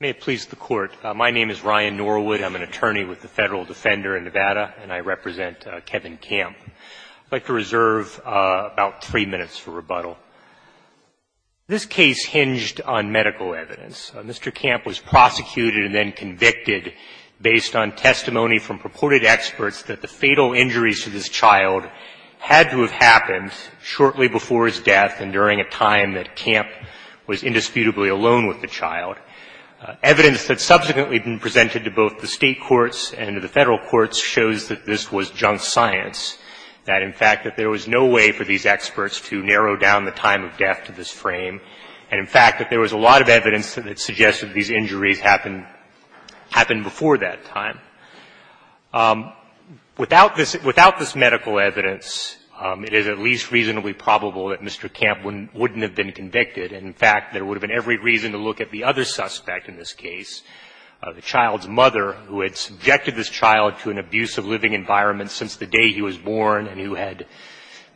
May it please the Court, my name is Ryan Norwood, I'm an attorney with the Federal Defender in Nevada, and I represent Kevin Camp. I'd like to reserve about three minutes for rebuttal. This case hinged on medical evidence. Mr. Camp was prosecuted and then convicted based on testimony from purported experts that the fatal injuries to this child had to have happened shortly before his death and during a time that Camp was indisputably alone with the child. Evidence that's subsequently been presented to both the State courts and to the Federal courts shows that this was junk science, that in fact that there was no way for these experts to narrow down the time of death to this frame, and in fact that there was a lot of evidence that suggested these injuries happened before that time. Without this medical evidence, it is at least reasonably probable that Mr. Camp wouldn't have been convicted. In fact, there would have been every reason to look at the other suspect in this case, the child's mother, who had subjected this child to an abusive living environment since the day he was born and who had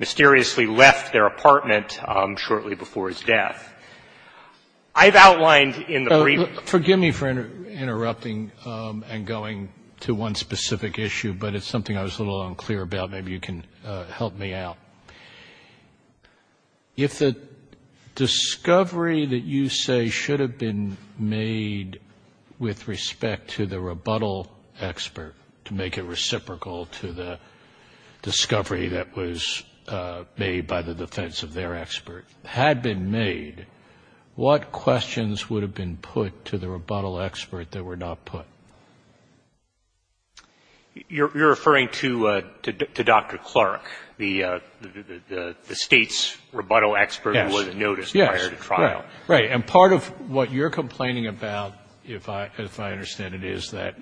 mysteriously left their apartment shortly before his death. I've outlined in the brief. Forgive me for interrupting and going to one specific issue, but it's something I was a little unclear about. Maybe you can help me out. If the discovery that you say should have been made with respect to the rebuttal expert, to make it reciprocal to the discovery that was made by the defense of their expert, had been made, what questions would have been put to the rebuttal expert that were not put? You're referring to Dr. Clark, the State's rebuttal expert who wasn't noticed prior to trial. Yes. Right. And part of what you're complaining about, if I understand it, is that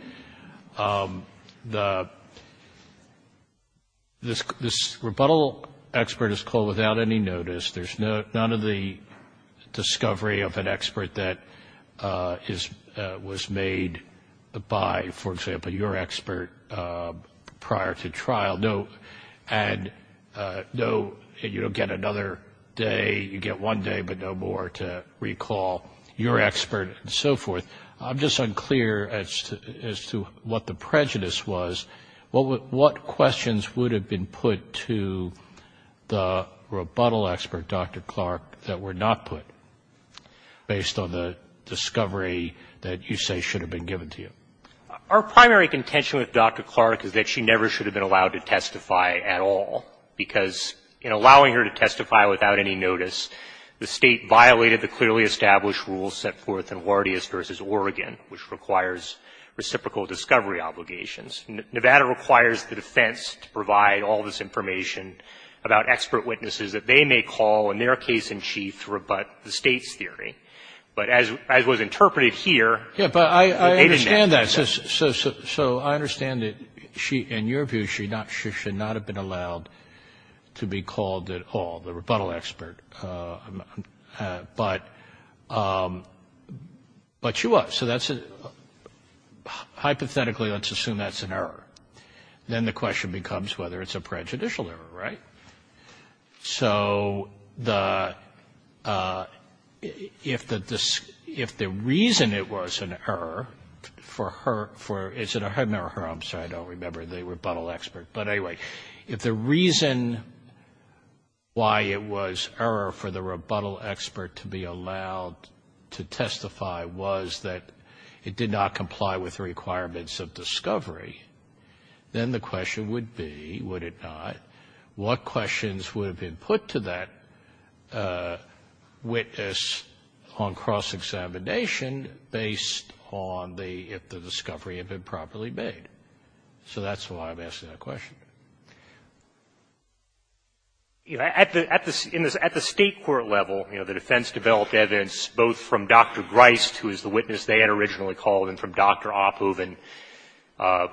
this rebuttal expert is called without any notice. There's none of the discovery of an expert that was made by, for example, your expert prior to trial. No, and you don't get another day. You get one day, but no more to recall your expert and so forth. I'm just unclear as to what the prejudice was. What questions would have been put to the rebuttal expert, Dr. Clark, that were not put, based on the discovery that you say should have been given to you? Our primary contention with Dr. Clark is that she never should have been allowed to testify at all, because in allowing her to testify without any notice, the State violated the clearly established rules set forth in Wardius v. Oregon, which requires reciprocal discovery obligations. Nevada requires the defense to provide all this information about expert witnesses that they may call, in their case in chief, to rebut the State's theory. But as was interpreted here, they did not. So I understand that, in your view, she should not have been allowed to be called at all, the rebuttal expert, but she was. So that's a, hypothetically, let's assume that's an error. Then the question becomes whether it's a prejudicial error, right? So the, if the reason it was an error for her, for, is it her or her, I'm sorry, I don't remember, the rebuttal expert. But anyway, if the reason why it was error for the rebuttal expert to be allowed to testify was that it did not comply with the requirements of discovery, then the question would be, would it not, what questions would have been put to that witness on cross-examination based on the, if the discovery had been properly made? So that's why I'm asking that question. You know, at the, at the State court level, you know, the defense developed evidence both from Dr. Grist, who was the witness they had originally called, and from Dr. Oppoven,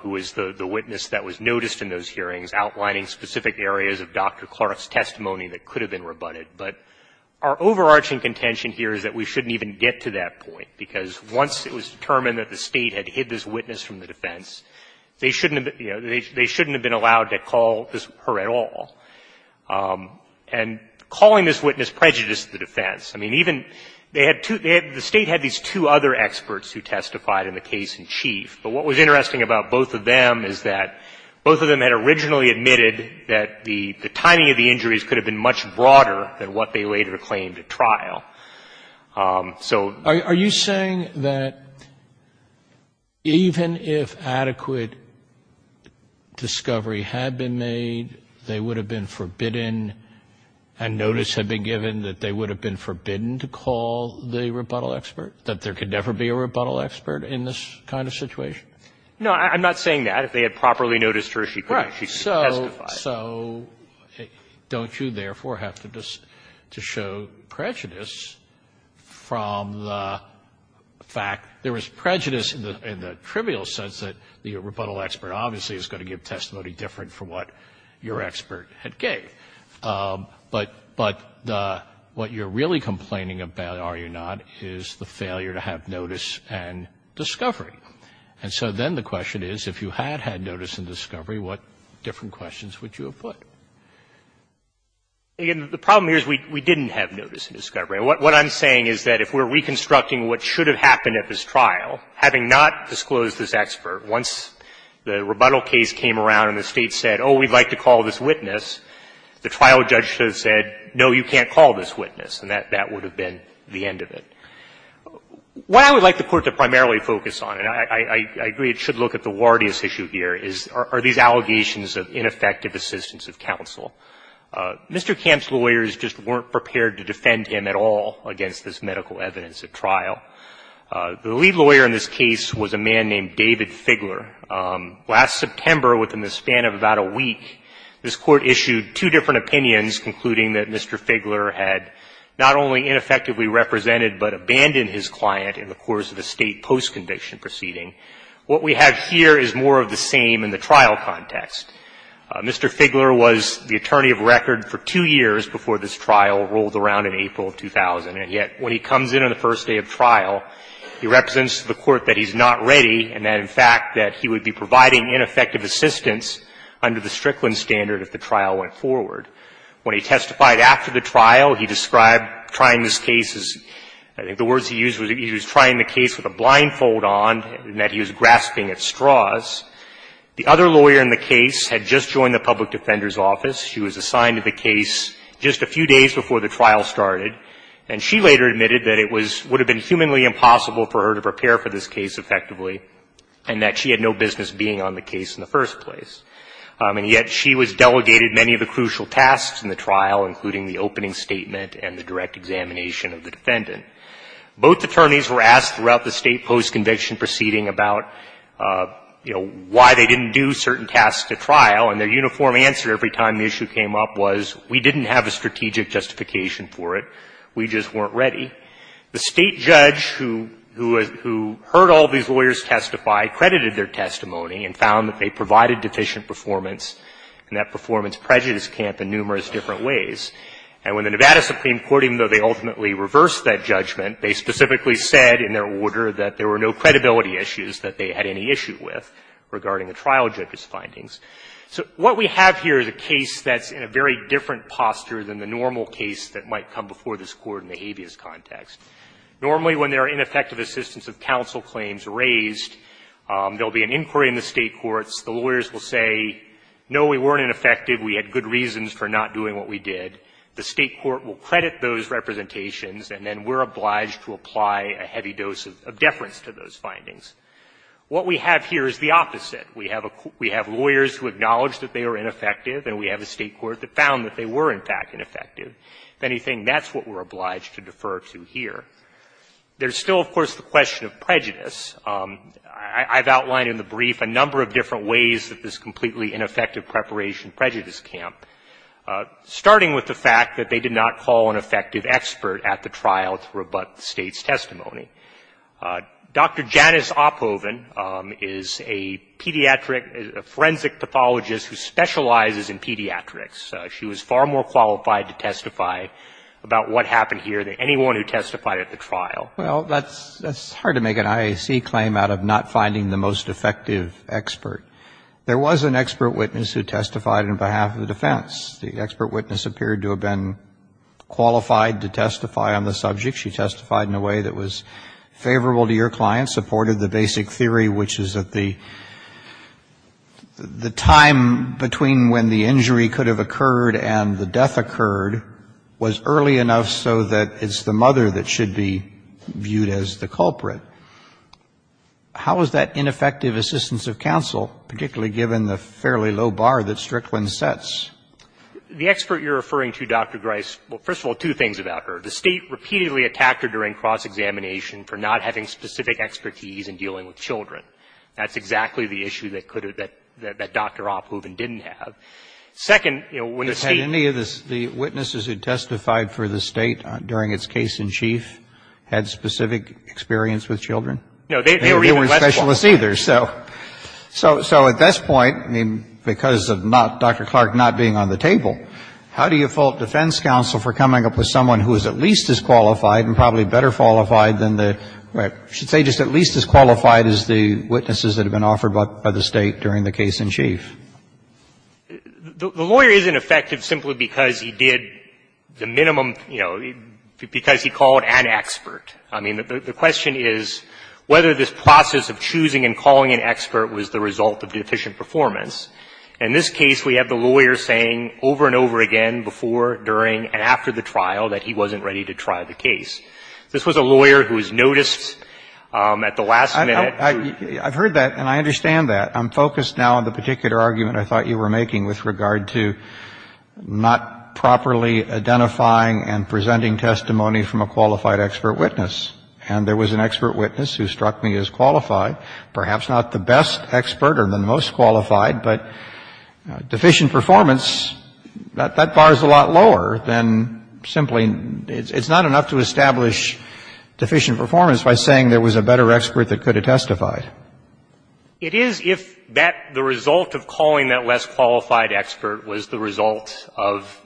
who was the witness that was noticed in those hearings, outlining specific areas of Dr. Clark's testimony that could have been rebutted. But our overarching contention here is that we shouldn't even get to that point, because once it was determined that the State had hid this witness from the defense, they shouldn't have been, you know, they shouldn't have been allowed to call her at all. And calling this witness prejudiced the defense. I mean, even, they had two, the State had these two other experts who testified in the case in chief. But what was interesting about both of them is that both of them had originally admitted that the timing of the injuries could have been much broader than what they later claimed at trial. So the question is, are you saying that even if adequate discovery had been made, they would have been forbidden, and notice had been given that they would have been forbidden to call the rebuttal expert, that there could never be a rebuttal expert in this kind of situation? No, I'm not saying that. If they had properly noticed her, she could have testified. So don't you, therefore, have to show prejudice from the fact there was prejudice in the trivial sense that the rebuttal expert obviously is going to give testimony different from what your expert had gave. But what you're really complaining about, are you not, is the failure to have notice and discovery. And so then the question is, if you had had notice and discovery, what different questions would you have put? Again, the problem here is we didn't have notice and discovery. What I'm saying is that if we're reconstructing what should have happened at this trial, having not disclosed this expert, once the rebuttal case came around and the State said, oh, we'd like to call this witness, the trial judge should have said, no, you can't call this witness, and that would have been the end of it. What I would like the Court to primarily focus on, and I agree it should look at the Wardius issue here, is are these allegations of ineffective assistance of counsel. Mr. Kemp's lawyers just weren't prepared to defend him at all against this medical evidence at trial. The lead lawyer in this case was a man named David Figler. Last September, within the span of about a week, this Court issued two different opinions concluding that Mr. Figler had not only ineffectively represented, but abandoned his client in the course of a State post-conviction proceeding. What we have here is more of the same in the trial context. Mr. Figler was the attorney of record for two years before this trial rolled around in April of 2000. And yet, when he comes in on the first day of trial, he represents to the Court that he's not ready and that, in fact, that he would be providing ineffective assistance under the Strickland standard if the trial went forward. When he testified after the trial, he described trying this case as – I think the words he used was he was trying the case with a blindfold on and that he was grasping at straws. The other lawyer in the case had just joined the public defender's office. She was assigned to the case just a few days before the trial started, and she later admitted that it was – would have been humanly impossible for her to prepare for this case effectively and that she had no business being on the case in the first place. And yet, she was delegated many of the crucial tasks in the trial, including the opening statement and the direct examination of the defendant. Both attorneys were asked throughout the State post-conviction proceeding about, you know, why they didn't do certain tasks at the trial, and their uniform answer every time the issue came up was, we didn't have a strategic justification for it. We just weren't ready. The State judge who heard all these lawyers testify credited their testimony and found that they provided deficient performance, and that performance prejudiced Camp in numerous different ways. And when the Nevada Supreme Court, even though they ultimately reversed that judgment, they specifically said in their order that there were no credibility issues that they had any issue with regarding the trial judge's findings. So what we have here is a case that's in a very different posture than the normal case that might come before this Court in the habeas context. Normally, when there are ineffective assistance of counsel claims raised, there are two State courts. The lawyers will say, no, we weren't ineffective, we had good reasons for not doing what we did. The State court will credit those representations, and then we're obliged to apply a heavy dose of deference to those findings. What we have here is the opposite. We have lawyers who acknowledge that they are ineffective, and we have a State court that found that they were, in fact, ineffective. If anything, that's what we're obliged to defer to here. There's still, of course, the question of prejudice. I've outlined in the brief a number of different ways that this completely ineffective preparation prejudice camp, starting with the fact that they did not call an effective expert at the trial to rebut the State's testimony. Dr. Janice Oppoven is a pediatric forensic pathologist who specializes in pediatrics. She was far more qualified to testify about what happened here than anyone who testified at the trial. Well, that's hard to make an IAC claim out of not finding the most effective expert. There was an expert witness who testified on behalf of the defense. The expert witness appeared to have been qualified to testify on the subject. She testified in a way that was favorable to your client, supported the basic theory, which is that the time between when the injury could have occurred and the How is that ineffective assistance of counsel, particularly given the fairly low bar that Strickland sets? The expert you're referring to, Dr. Grice, well, first of all, two things about her. The State repeatedly attacked her during cross-examination for not having specific expertise in dealing with children. That's exactly the issue that could have been, that Dr. Oppoven didn't have. Second, you know, when the State Had any of the witnesses who testified for the State during its case in chief had specific experience with children? No, they were even less qualified. They weren't specialists either. So at this point, I mean, because of Dr. Clark not being on the table, how do you fault defense counsel for coming up with someone who is at least as qualified and probably better qualified than the or I should say just at least as qualified as the witnesses that have been offered by the State during the case in chief? The lawyer isn't effective simply because he did the minimum, you know, because he called an expert. I mean, the question is whether this process of choosing and calling an expert was the result of deficient performance. In this case, we have the lawyer saying over and over again before, during, and after the trial that he wasn't ready to try the case. This was a lawyer who was noticed at the last minute. I've heard that, and I understand that. I'm focused now on the particular argument I thought you were making with regard to not properly identifying and presenting testimony from a qualified expert witness. And there was an expert witness who struck me as qualified, perhaps not the best expert or the most qualified, but deficient performance, that bar is a lot lower than simply — it's not enough to establish deficient performance by saying there was a better expert that could have testified. It is if that — the result of calling that less qualified expert was the result of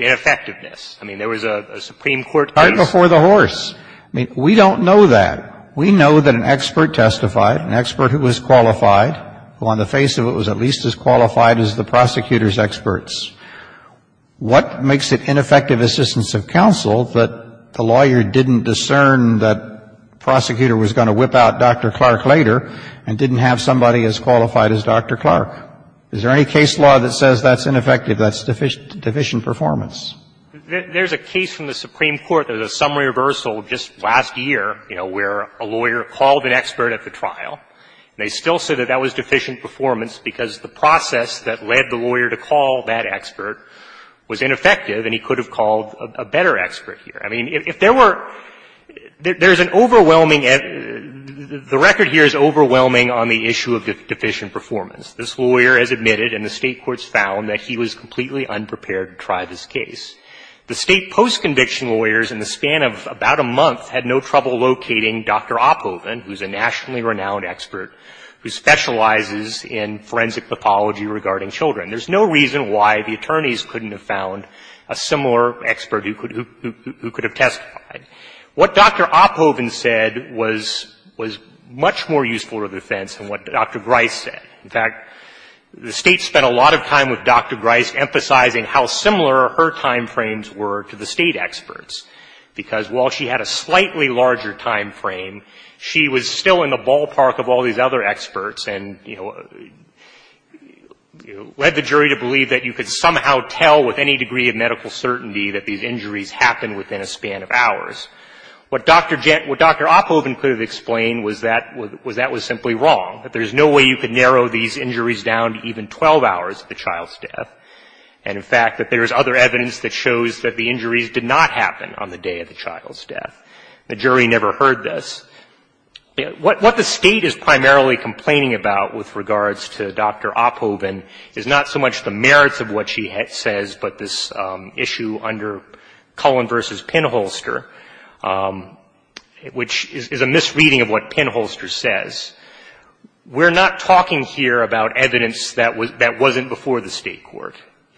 ineffectiveness. I mean, there was a Supreme Court case — Right before the horse. I mean, we don't know that. We know that an expert testified, an expert who was qualified, who on the face of it was at least as qualified as the prosecutor's experts. What makes it ineffective assistance of counsel that the lawyer didn't discern that the prosecutor was going to whip out Dr. Clark later and didn't have somebody as qualified as Dr. Clark? Is there any case law that says that's ineffective, that's deficient performance? There's a case from the Supreme Court that is a summary reversal of just last year, you know, where a lawyer called an expert at the trial, and they still said that that was deficient performance because the process that led the lawyer to call that expert was ineffective and he could have called a better expert here. I mean, if there were — there's an overwhelming — the record here is overwhelming on the issue of deficient performance. This lawyer has admitted, and the State courts found, that he was completely unprepared to try this case. The State post-conviction lawyers, in the span of about a month, had no trouble locating Dr. Opphoven, who's a nationally renowned expert who specializes in forensic pathology regarding children. There's no reason why the attorneys couldn't have found a similar expert who could — who could have testified. What Dr. Opphoven said was — was much more useful to the defense than what Dr. Grice said. In fact, the State spent a lot of time with Dr. Grice emphasizing how similar her timeframes were to the State experts, because while she had a slightly larger timeframe, she was still in the ballpark of all these other experts and, you know, led the jury to believe that you could somehow tell with any degree of medical certainty that these injuries happened within a span of hours. What Dr. — what Dr. Opphoven could have explained was that — was that was simply wrong. That there's no way you could narrow these injuries down to even 12 hours of the child's death. And, in fact, that there's other evidence that shows that the injuries did not happen on the day of the child's death. The jury never heard this. What — what the State is primarily complaining about with regards to Dr. Opphoven is not so much the merits of what she says, but this issue under Cullen v. Pinholster, which is a misreading of what Pinholster says. We're not talking here about evidence that was — that wasn't before the State court.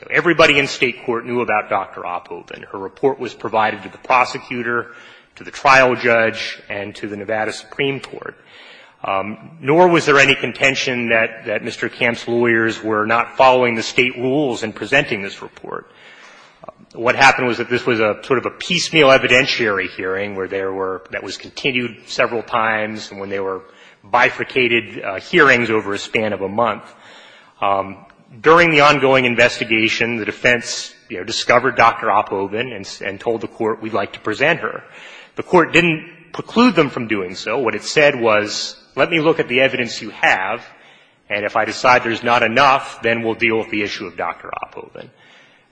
Everybody in State court knew about Dr. Opphoven. Her report was provided to the prosecutor, to the trial judge, and to the Nevada Supreme Court. Nor was there any contention that — that Mr. Kemp's lawyers were not following the State rules in presenting this report. What happened was that this was a sort of a piecemeal evidentiary hearing where there were — that was continued several times, and when there were bifurcated hearings over a span of a month. During the ongoing investigation, the defense, you know, discovered Dr. Opphoven and — and told the Court, we'd like to present her. The Court didn't preclude them from doing so. What it said was, let me look at the evidence you have, and if I decide there's not enough, then we'll deal with the issue of Dr. Opphoven.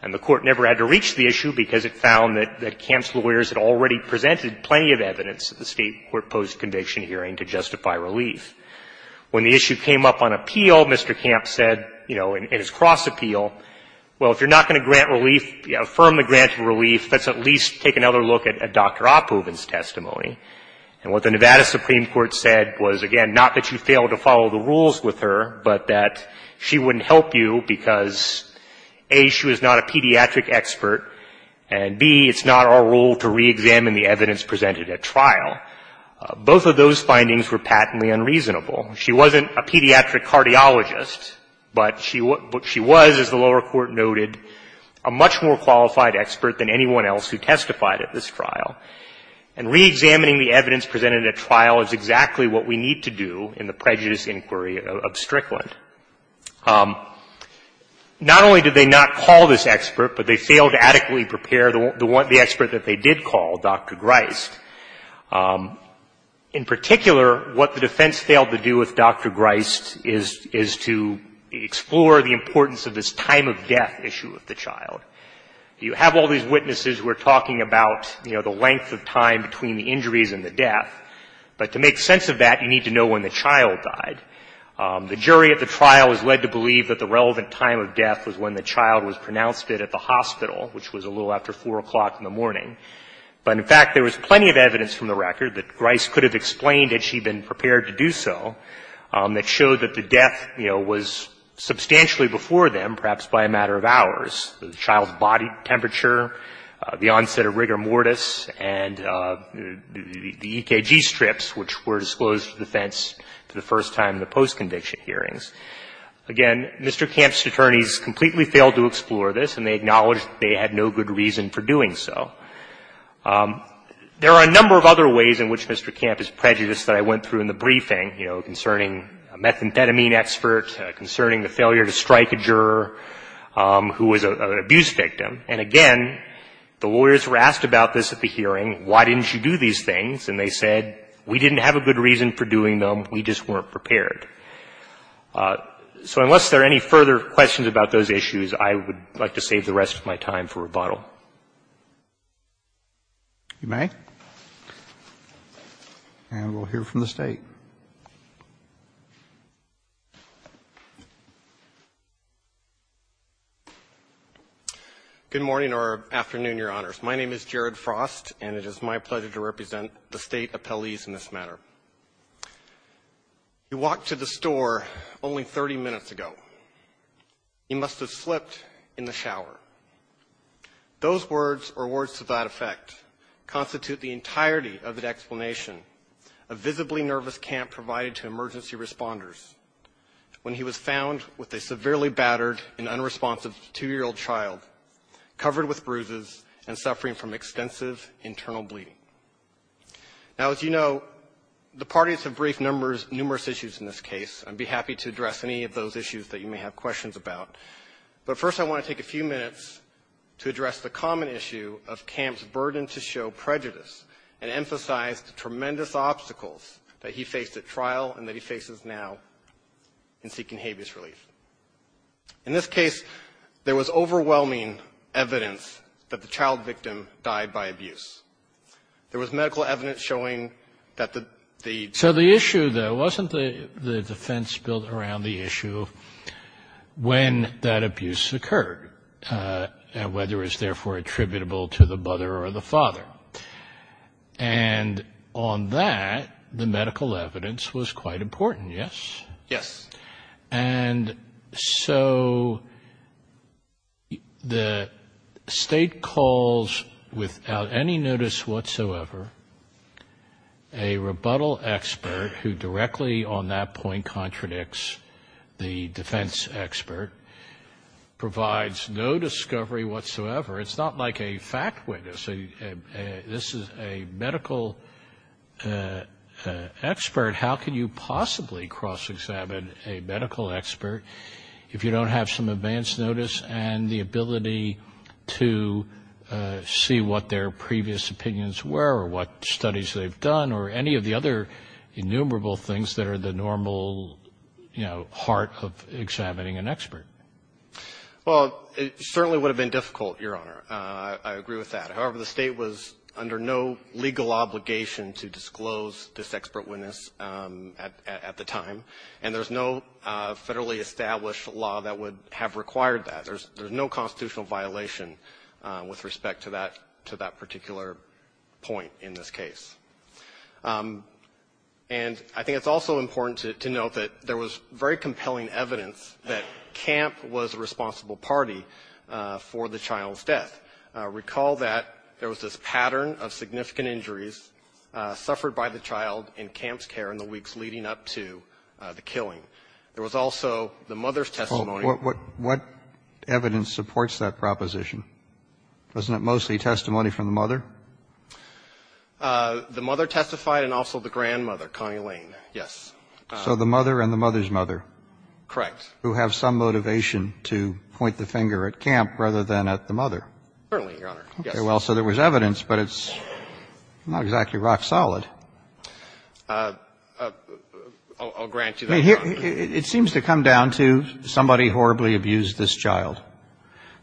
And the Court never had to reach the issue because it found that — that Kemp's lawyers had already presented plenty of evidence at the State court post-conviction hearing to justify relief. When the issue came up on appeal, Mr. Kemp said, you know, in his cross-appeal, well, if you're not going to grant relief, affirm the grant of relief, let's at least take another look at Dr. Opphoven's testimony. And what the Nevada Supreme Court said was, again, not that you failed to follow the rules with her, but that she wouldn't help you because, A, she was not a pediatric expert, and, B, it's not our role to re-examine the evidence presented at trial. Both of those findings were patently unreasonable. She wasn't a pediatric cardiologist, but she — but she was, as the lower court noted, a much more qualified expert than anyone else who testified at this trial. And re-examining the evidence presented at trial is exactly what we need to do in the prejudice inquiry of Strickland. Not only did they not call this expert, but they failed to adequately prepare the one — the expert that they did call, Dr. Greist. In particular, what the defense failed to do with Dr. Greist is — is to explore the importance of this time of death issue with the child. You have all these witnesses who are talking about, you know, the length of time between the injuries and the death, but to make sense of that, you need to know when the child died. The jury at the trial has led to believe that the relevant time of death was when the child was pronounced dead at the hospital, which was a little after 4 o'clock in the morning. But, in fact, there was plenty of evidence from the record that Greist could have explained had she been prepared to do so that showed that the death, you know, was substantially before them, perhaps by a matter of hours. The child's body temperature, the onset of rigor mortis, and the EKG strips, which were disclosed to the defense for the first time in the post-conviction hearings. Again, Mr. Camp's attorneys completely failed to explore this, and they acknowledged that they had no good reason for doing so. There are a number of other ways in which Mr. Camp is prejudiced that I went through in the briefing, you know, concerning a methamphetamine expert, concerning the failure to strike a juror who was an abuse victim. And, again, the lawyers were asked about this at the hearing, why didn't you do these things, and they said, we didn't have a good reason for doing them, we just weren't prepared. So unless there are any further questions about those issues, I would like to save the rest of my time for rebuttal. Roberts. And we'll hear from the State. Good morning or afternoon, Your Honors. My name is Jared Frost, and it is my pleasure to represent the State appellees in this matter. He walked to the store only 30 minutes ago. He must have slipped in the shower. Those words, or words to that effect, constitute the entirety of the explanation of visibly nervous Camp provided to emergency responders. When he was found with a severely battered and unresponsive 2-year-old child, covered with bruises, and suffering from extensive internal bleeding. Now, as you know, the parties have briefed numerous issues in this case. I'd be happy to address any of those issues that you may have questions about. But first, I want to take a few minutes to address the common issue of Camp's burden to show prejudice and emphasize the tremendous obstacles that he faced at trial and that he faces now in seeking habeas relief. In this case, there was overwhelming evidence that the child victim died by abuse. There was medical evidence showing that the the the So the issue, though, wasn't the defense built around the issue when that abuse occurred, whether it was therefore attributable to the mother or the father. And on that, the medical evidence was quite important, yes? Yes. And so the state calls without any notice whatsoever a rebuttal expert who directly on that point contradicts the defense expert, provides no discovery whatsoever. It's not like a fact witness. This is a medical expert. How can you possibly cross-examine a medical expert if you don't have some advance notice and the ability to see what their previous opinions were or what studies they've done or any of the other innumerable things that are the normal, you know, heart of examining an expert? Well, it certainly would have been difficult, Your Honor. I agree with that. However, the state was under no legal obligation to disclose this expert witness at the time. And there's no federally established law that would have required that. There's no constitutional violation with respect to that particular point in this case. And I think it's also important to note that there was very compelling evidence that CAMP was the responsible party for the child's death. Recall that there was this pattern of significant injuries suffered by the child in CAMP's care in the weeks leading up to the killing. There was also the mother's testimony. What evidence supports that proposition? Wasn't it mostly testimony from the mother? The mother testified and also the grandmother, Connie Lane, yes. So the mother and the mother's mother. Correct. Who have some motivation to point the finger at CAMP rather than at the mother. Certainly, Your Honor. Yes. Okay. Well, so there was evidence, but it's not exactly rock solid. I'll grant you that, Your Honor. It seems to come down to somebody horribly abused this child.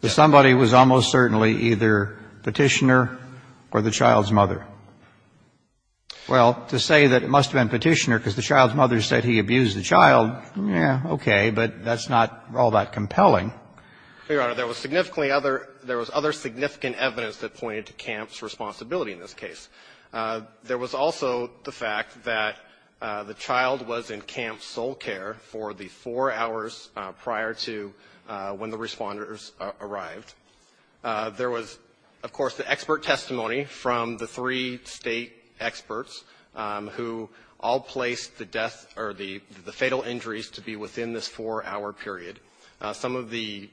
Somebody was almost certainly either Petitioner or the child's mother. Well, to say that it must have been Petitioner because the child's mother said he abused the child, yeah, okay, but that's not all that compelling. Your Honor, there was significantly other — there was other significant evidence that pointed to CAMP's responsibility in this case. There was also the fact that the child was in CAMP's sole care for the four hours prior to when the responders arrived. There was, of course, the expert testimony from the three State experts who all placed the death or the — the fatal injuries to be within this four-hour period. Some of the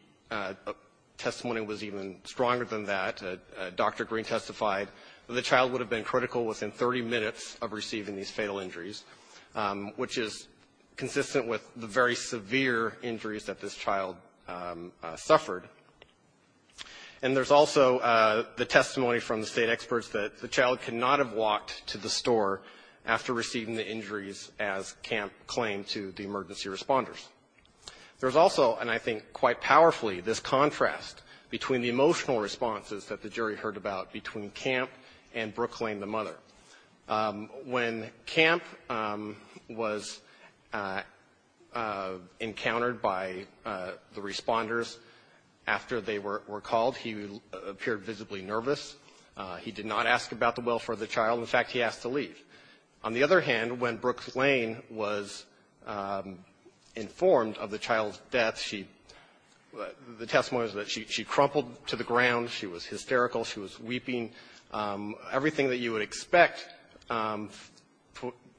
testimony was even stronger than that. Dr. Green testified that the child would have been critical within 30 minutes of receiving these fatal injuries, which is consistent with the very severe injuries that this child suffered. And there's also the testimony from the State experts that the child could not have walked to the store after receiving the injuries as CAMP claimed to the emergency responders. There's also, and I think quite powerfully, this contrast between the emotional responses that the jury heard about between CAMP and Brooke Lane, the mother. When CAMP was encountered by the responders after they were called, he appeared visibly nervous. He did not ask about the welfare of the child. In fact, he asked to leave. On the other hand, when Brooke Lane was informed of the child's death, she — the testimony was that she crumpled to the ground. She was hysterical. She was weeping. Everything that you would expect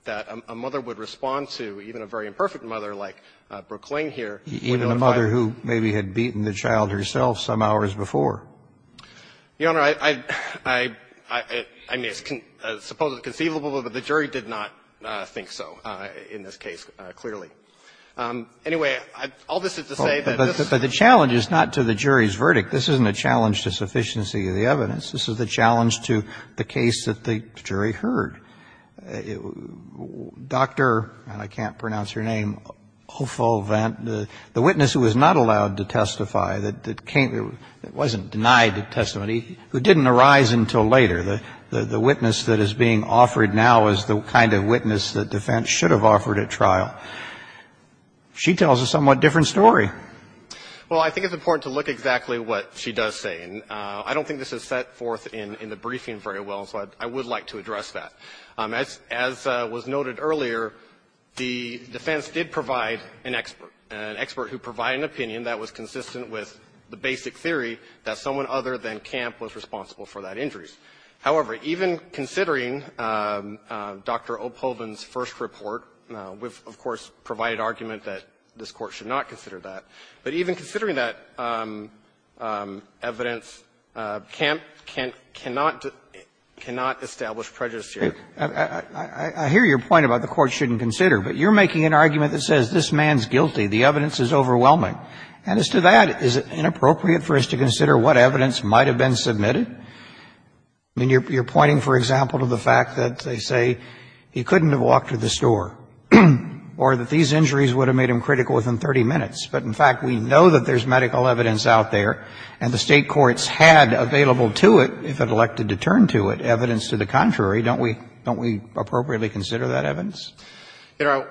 that a mother would respond to, even a very imperfect mother like Brooke Lane here, would not have been. Even a mother who maybe had beaten the child herself some hours before. The Honor, I — I mean, it's supposedly conceivable, but the jury did not think so in this case clearly. Anyway, all this is to say that this — But the challenge is not to the jury's verdict. This isn't a challenge to sufficiency of the evidence. This is a challenge to the case that the jury heard. Dr. — and I can't pronounce her name — Hofvoldt, the witness who was not allowed to testify, that came — that wasn't denied testimony, who didn't arise until later. The witness that is being offered now is the kind of witness that defense should have offered at trial. She tells a somewhat different story. Well, I think it's important to look exactly what she does say. And I don't think this is set forth in the briefing very well, so I would like to address that. As was noted earlier, the defense did provide an expert, an expert who provided an opinion that was consistent with the basic theory that someone other than Kemp was responsible for that injury. However, even considering Dr. Opholden's first report, we've, of course, provided argument that this Court should not consider that. But even considering that evidence, Kemp can't — cannot — cannot establish prejudice here. I hear your point about the Court shouldn't consider, but you're making an argument that says this man's guilty. The evidence is overwhelming. And as to that, is it inappropriate for us to consider what evidence might have been submitted? I mean, you're pointing, for example, to the fact that they say he couldn't have walked to the store or that these injuries would have made him critical within 30 minutes. But, in fact, we know that there's medical evidence out there, and the State courts had available to it, if it elected to turn to it, evidence to the contrary. Don't we — don't we appropriately consider that evidence? You know,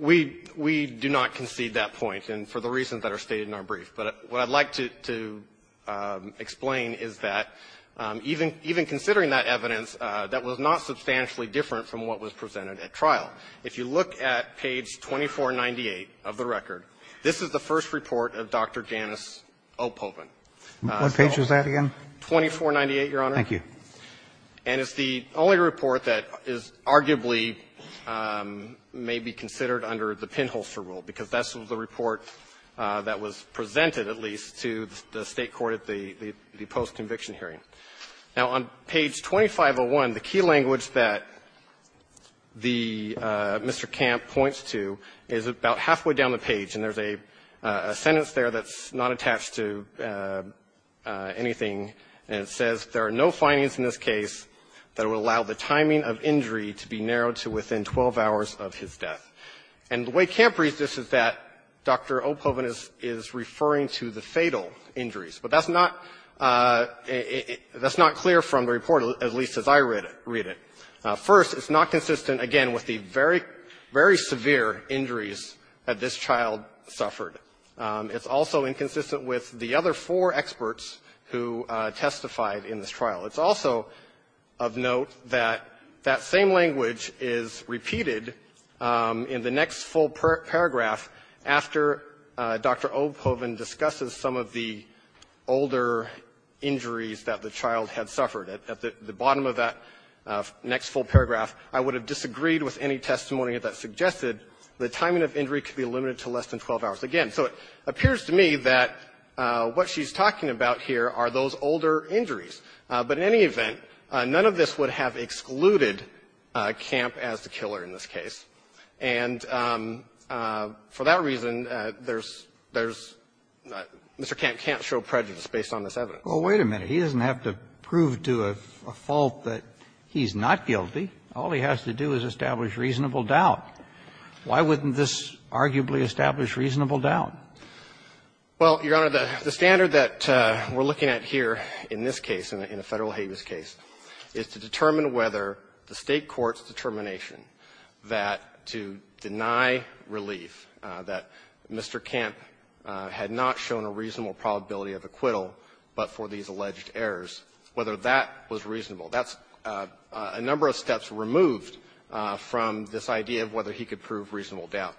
we — we do not concede that point, and for the reasons that are stated in our brief. But what I'd like to — to explain is that even — even considering that evidence, that was not substantially different from what was presented at trial. If you look at page 2498 of the record, this is the first report of Dr. Janus Opholden. What page was that again? 2498, Your Honor. Thank you. And it's the only report that is arguably may be considered under the pinholster rule, because that's the report that was presented, at least, to the State court at the — the post-conviction hearing. Now, on page 2501, the key language that the — Mr. Camp points to is about halfway down the page, and there's a — a sentence there that's not attached to anything, and it says, There are no findings in this case that would allow the timing of injury to be narrowed to within 12 hours of his death. And the way Camp reads this is that Dr. Opholden is — is referring to the fatal injuries. But that's not — that's not clear from the report, at least as I read it. First, it's not consistent, again, with the very — very severe injuries that this child suffered. It's also inconsistent with the other four experts who testified in this trial. It's also of note that that same language is repeated in the next full paragraph after Dr. Opholden discusses some of the older injuries that the child had suffered. At the bottom of that next full paragraph, I would have disagreed with any testimony that suggested the timing of injury could be limited to less than 12 hours. Again, so it appears to me that what she's talking about here are those older injuries. But in any event, none of this would have excluded Camp as the killer in this case. And for that reason, there's — there's — Mr. Camp can't show prejudice based on this evidence. Kennedy. Well, wait a minute. He doesn't have to prove to a fault that he's not guilty. All he has to do is establish reasonable doubt. Why wouldn't this arguably establish reasonable doubt? Well, Your Honor, the standard that we're looking at here in this case, in a Federal habeas case, is to determine whether the State court's determination that to deny relief, that Mr. Camp had not shown a reasonable probability of acquittal but for these alleged errors, whether that was reasonable. That's a number of steps removed from this idea of whether he could prove reasonable doubt.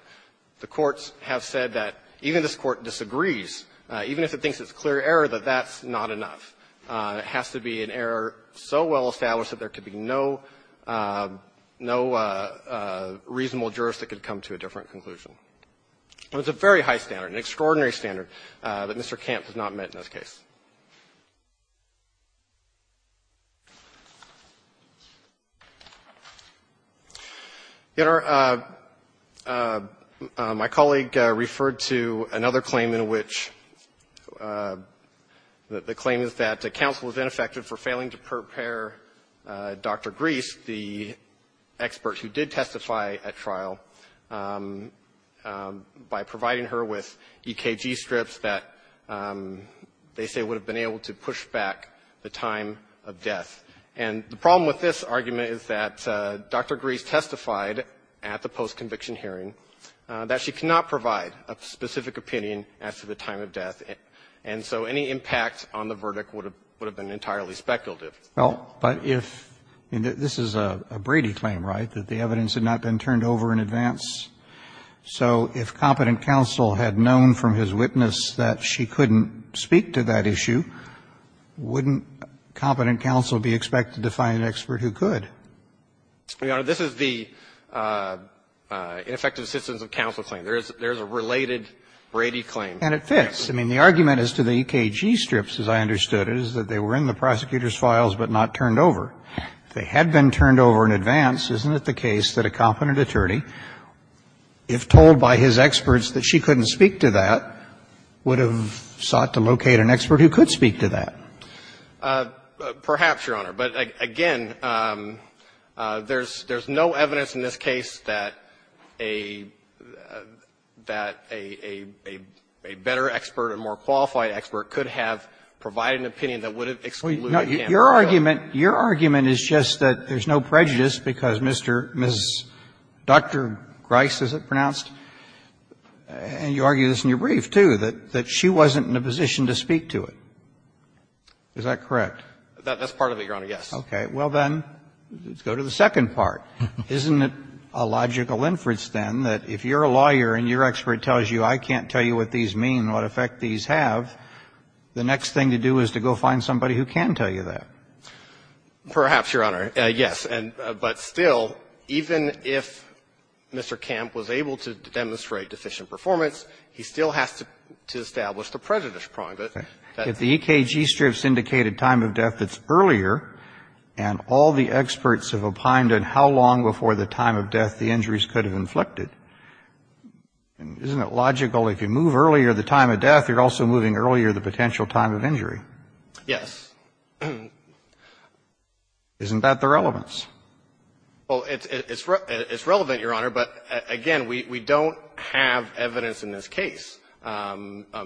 The courts have said that even if this Court disagrees, even if it thinks it's a clear error, that that's not enough. It has to be an error so well established that there could be no — no reasonable jurist that could come to a different conclusion. It's a very high standard, an extraordinary standard, that Mr. Camp has not met in this case. Your Honor, my colleague referred to another claim in which the claim is that the counsel is ineffective for failing to prepare Dr. Gries, the expert who did testify at trial, by providing her with EKG strips that they say were not sufficient that they would have been able to push back the time of death. And the problem with this argument is that Dr. Gries testified at the post-conviction hearing that she cannot provide a specific opinion as to the time of death. And so any impact on the verdict would have been entirely speculative. Roberts, but if — this is a Brady claim, right, that the evidence had not been turned over in advance? So if competent counsel had known from his witness that she couldn't speak to that issue, wouldn't competent counsel be expected to find an expert who could? Your Honor, this is the ineffective assistance of counsel claim. There is a related Brady claim. And it fits. I mean, the argument as to the EKG strips, as I understood it, is that they were in the prosecutor's files but not turned over. If they had been turned over in advance, isn't it the case that a competent attorney, if told by his experts that she couldn't speak to that, would have sought to locate an expert who could speak to that? Perhaps, Your Honor. But, again, there's no evidence in this case that a better expert, a more qualified expert could have provided an opinion that would have excluded Campbell. Your argument is just that there's no prejudice because Mr. — Ms. — Dr. Gries, is it pronounced? And you argue this in your brief, too, that she wasn't in a position to speak to it. Is that correct? That's part of it, Your Honor, yes. Okay. Well, then, let's go to the second part. Isn't it a logical inference, then, that if you're a lawyer and your expert tells you I can't tell you what these mean, what effect these have, the next thing to do is to go find somebody who can tell you that? Perhaps, Your Honor, yes. But still, even if Mr. Camp was able to demonstrate deficient performance, he still has to establish the prejudice prong. If the EKG strips indicated time of death that's earlier, and all the experts have opined on how long before the time of death the injuries could have inflicted, isn't it logical if you move earlier the time of death, you're also moving earlier the potential time of injury? Yes. Isn't that the relevance? Well, it's relevant, Your Honor, but again, we don't have evidence in this case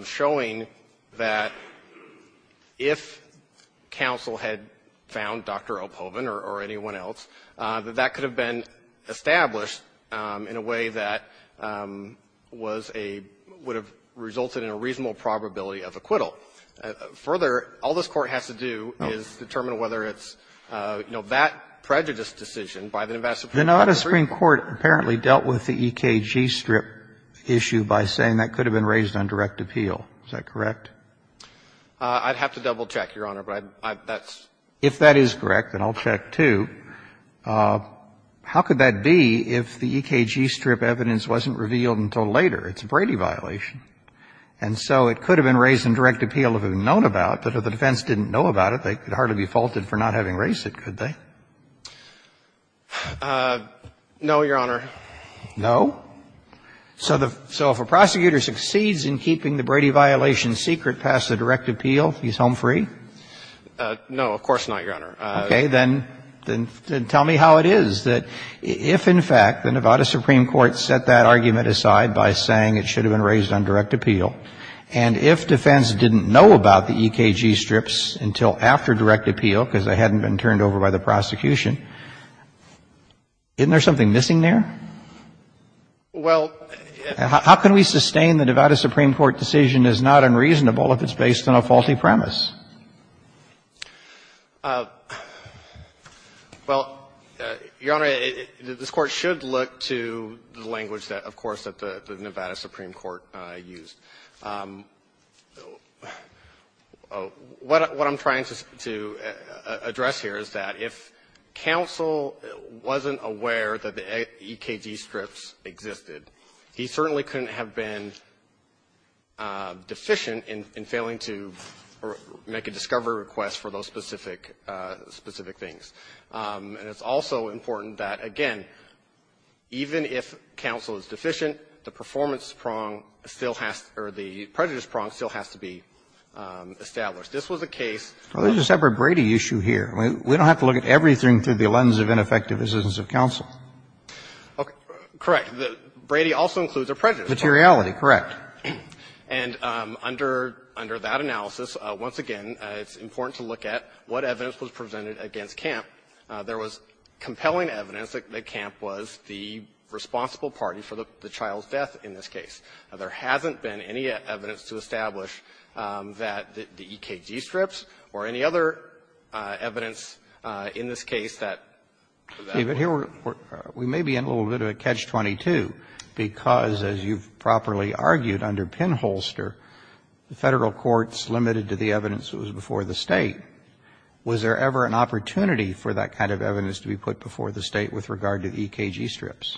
showing that if counsel had found Dr. Ophoven or anyone else, that that could have been established in a way that was a — would have resulted in a reasonable probability of acquittal. So further, all this Court has to do is determine whether it's, you know, that prejudice decision by the investigation. The Nevada Supreme Court apparently dealt with the EKG strip issue by saying that could have been raised on direct appeal. Is that correct? I'd have to double-check, Your Honor, but that's — If that is correct, then I'll check, too. How could that be if the EKG strip evidence wasn't revealed until later? It's a Brady violation. And so it could have been raised on direct appeal if it had been known about, but if the defense didn't know about it, they could hardly be faulted for not having raised it, could they? No, Your Honor. No? So if a prosecutor succeeds in keeping the Brady violation secret past the direct appeal, he's home free? No, of course not, Your Honor. Okay. Then tell me how it is that if, in fact, the Nevada Supreme Court set that argument aside by saying it should have been raised on direct appeal, and if defense didn't know about the EKG strips until after direct appeal because they hadn't been turned over by the prosecution, isn't there something missing there? Well, how can we sustain the Nevada Supreme Court decision is not unreasonable if it's based on a faulty premise? Well, Your Honor, this Court should look to the language that, of course, the Supreme Court used. What I'm trying to address here is that if counsel wasn't aware that the EKG strips existed, he certainly couldn't have been deficient in failing to make a discovery request for those specific things. And it's also important that, again, even if counsel is deficient in failing to make a discovery request, the performance prong still has to be established. This was a case of the separate Brady issue here. We don't have to look at everything through the lens of ineffective assistance of counsel. Correct. Brady also includes a prejudice prong. Materiality, correct. And under that analysis, once again, it's important to look at what evidence was presented against Camp. There was compelling evidence that Camp was the responsible party for the child's death in this case. There hasn't been any evidence to establish that the EKG strips or any other evidence in this case that that was the case. Roberts, we may be in a little bit of a catch-22 because, as you've properly argued under Penholster, the Federal courts limited to the evidence that was before the State. Was there ever an opportunity for that kind of evidence to be put before the State with regard to the EKG strips?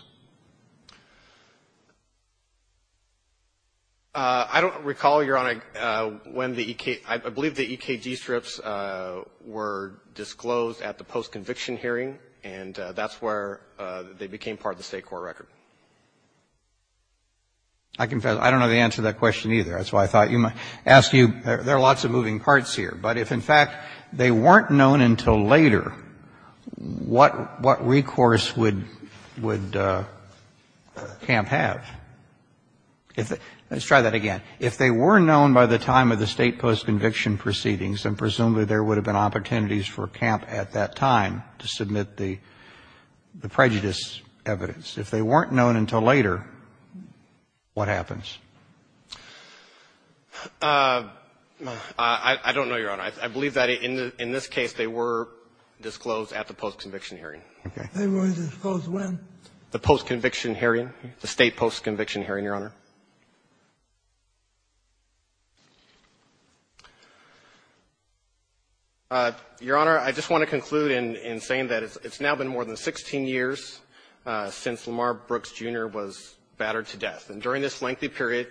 I don't recall, Your Honor, when the EKG strips were disclosed at the post-conviction hearing, and that's where they became part of the State court record. I confess, I don't know the answer to that question either. That's why I thought you might ask you. There are lots of moving parts here. But if, in fact, they weren't known until later, what recourse would Camp have? Let's try that again. If they were known by the time of the State post-conviction proceedings, then presumably there would have been opportunities for Camp at that time to submit the prejudice evidence. If they weren't known until later, what happens? I don't know, Your Honor. I believe that in this case they were disclosed at the post-conviction hearing. They were disclosed when? The post-conviction hearing, the State post-conviction hearing, Your Honor. Your Honor, I just want to conclude in saying that it's now been more than 16 years since Lamar Brooks, Jr. was battered to death. And during this lengthy period,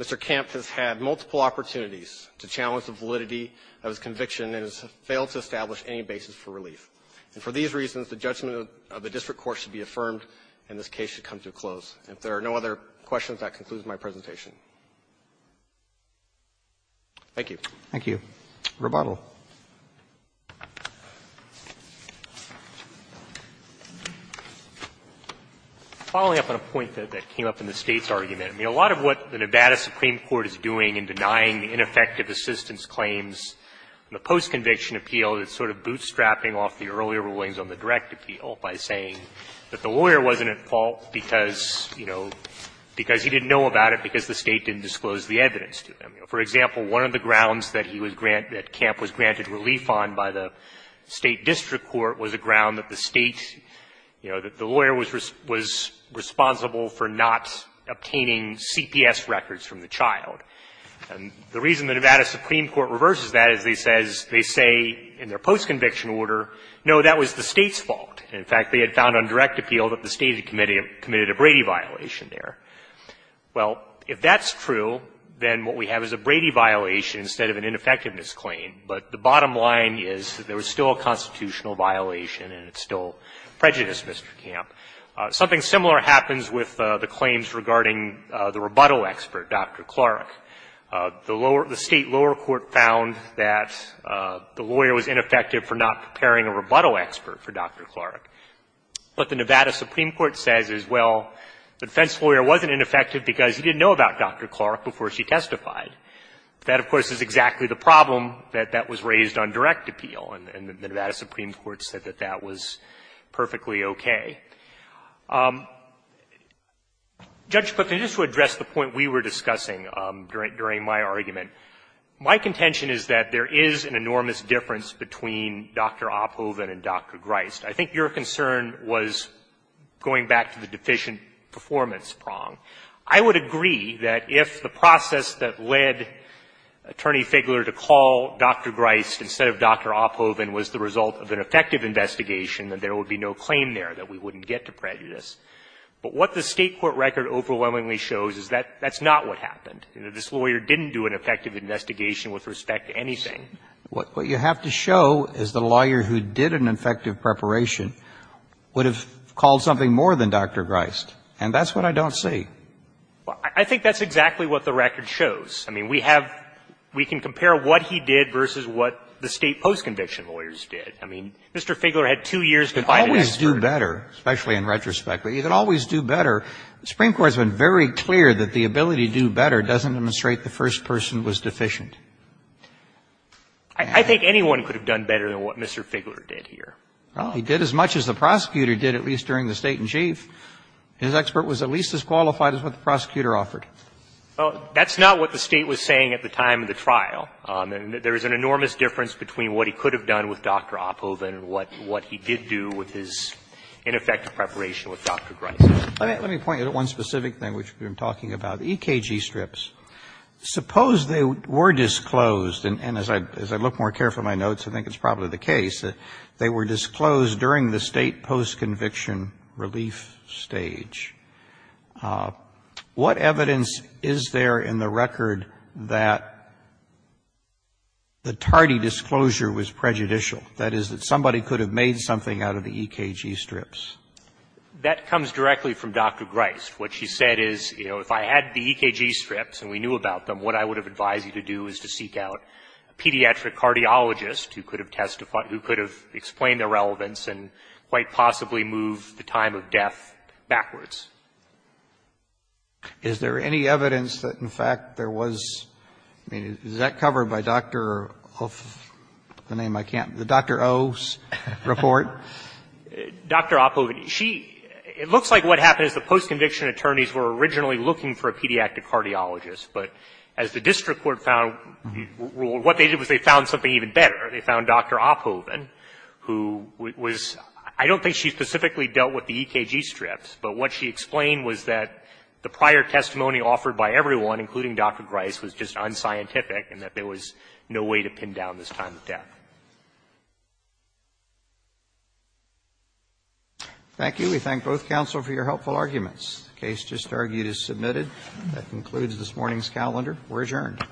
Mr. Camp has had multiple opportunities to challenge the validity of his conviction and has failed to establish any basis for relief. And for these reasons, the judgment of the district court should be affirmed and this case should come to a close. If there are no other questions, that concludes my presentation. Thank you. Roberts. Roberts. Following up on a point that came up in the State's argument, I mean, a lot of what the Nevada Supreme Court is doing in denying ineffective assistance claims in the post-conviction appeal is sort of bootstrapping off the earlier rulings on the directive appeal by saying that the lawyer wasn't at fault because, you know, because he didn't know about it because the State didn't disclose the evidence to him. For example, one of the grounds that he was grant – that Camp was granted relief on by the State district court was a ground that the State, you know, that the lawyer was responsible for not obtaining CPS records from the child. And the reason the Nevada Supreme Court reverses that is they say in their post-conviction order, no, that was the State's fault. In fact, they had found on direct appeal that the State had committed a Brady violation there. Well, if that's true, then what we have is a Brady violation instead of an ineffectiveness claim. But the bottom line is that there was still a constitutional violation and it's still prejudice, Mr. Camp. Something similar happens with the claims regarding the rebuttal expert, Dr. Clark. The lower – the State lower court found that the lawyer was ineffective for not preparing a rebuttal expert for Dr. Clark. What the Nevada Supreme Court says is, well, the defense lawyer wasn't ineffective because he didn't know about Dr. Clark before she testified. That, of course, is exactly the problem that that was raised on direct appeal, and the Nevada Supreme Court said that that was perfectly okay. Judge, but just to address the point we were discussing during my argument, my contention is that there is an enormous difference between Dr. Oppoven and Dr. Grist. I think your concern was going back to the deficient performance prong. I would agree that if the process that led Attorney Figler to call Dr. Grist instead of Dr. Oppoven was the result of an effective investigation, that there would be no claim there, that we wouldn't get to prejudice. But what the State court record overwhelmingly shows is that that's not what happened. This lawyer didn't do an effective investigation with respect to anything. What you have to show is the lawyer who did an effective preparation would have called something more than Dr. Grist, and that's what I don't see. Well, I think that's exactly what the record shows. I mean, we have we can compare what he did versus what the State post-conviction lawyers did. I mean, Mr. Figler had two years to find an expert. You can always do better, especially in retrospect, but you can always do better. The Supreme Court has been very clear that the ability to do better doesn't demonstrate the first person was deficient. I think anyone could have done better than what Mr. Figler did here. He did as much as the prosecutor did, at least during the State and Chief. His expert was at least as qualified as what the prosecutor offered. That's not what the State was saying at the time of the trial. There is an enormous difference between what he could have done with Dr. Oppoven and what he did do with his ineffective preparation with Dr. Grist. Let me point you to one specific thing which we've been talking about, the EKG strips. Suppose they were disclosed, and as I look more carefully at my notes, I think it's probably the case, that they were disclosed during the State post-conviction relief stage. What evidence is there in the record that the tardy disclosure was prejudicial? That is, that somebody could have made something out of the EKG strips? That comes directly from Dr. Grist. What she said is, you know, if I had the EKG strips and we knew about them, what I would have advised you to do is to seek out a pediatric cardiologist who could have testified, who could have explained the relevance and quite possibly move the time of death backwards. Is there any evidence that, in fact, there was, I mean, is that covered by Dr. Oppoven, the name I can't, the Dr. O's report? Dr. Oppoven, she, it looks like what happened is the post-conviction attorneys were originally looking for a pediatric cardiologist, but as the district court found, what they did was they found something even better. They found Dr. Oppoven, who was, I don't think she specifically dealt with the EKG strips, but what she explained was that the prior testimony offered by everyone, including Dr. Grist, was just unscientific and that there was no way to pin down this time of death. Thank you. We thank both counsel for your helpful arguments. The case just argued is submitted. That concludes this morning's calendar. We're adjourned.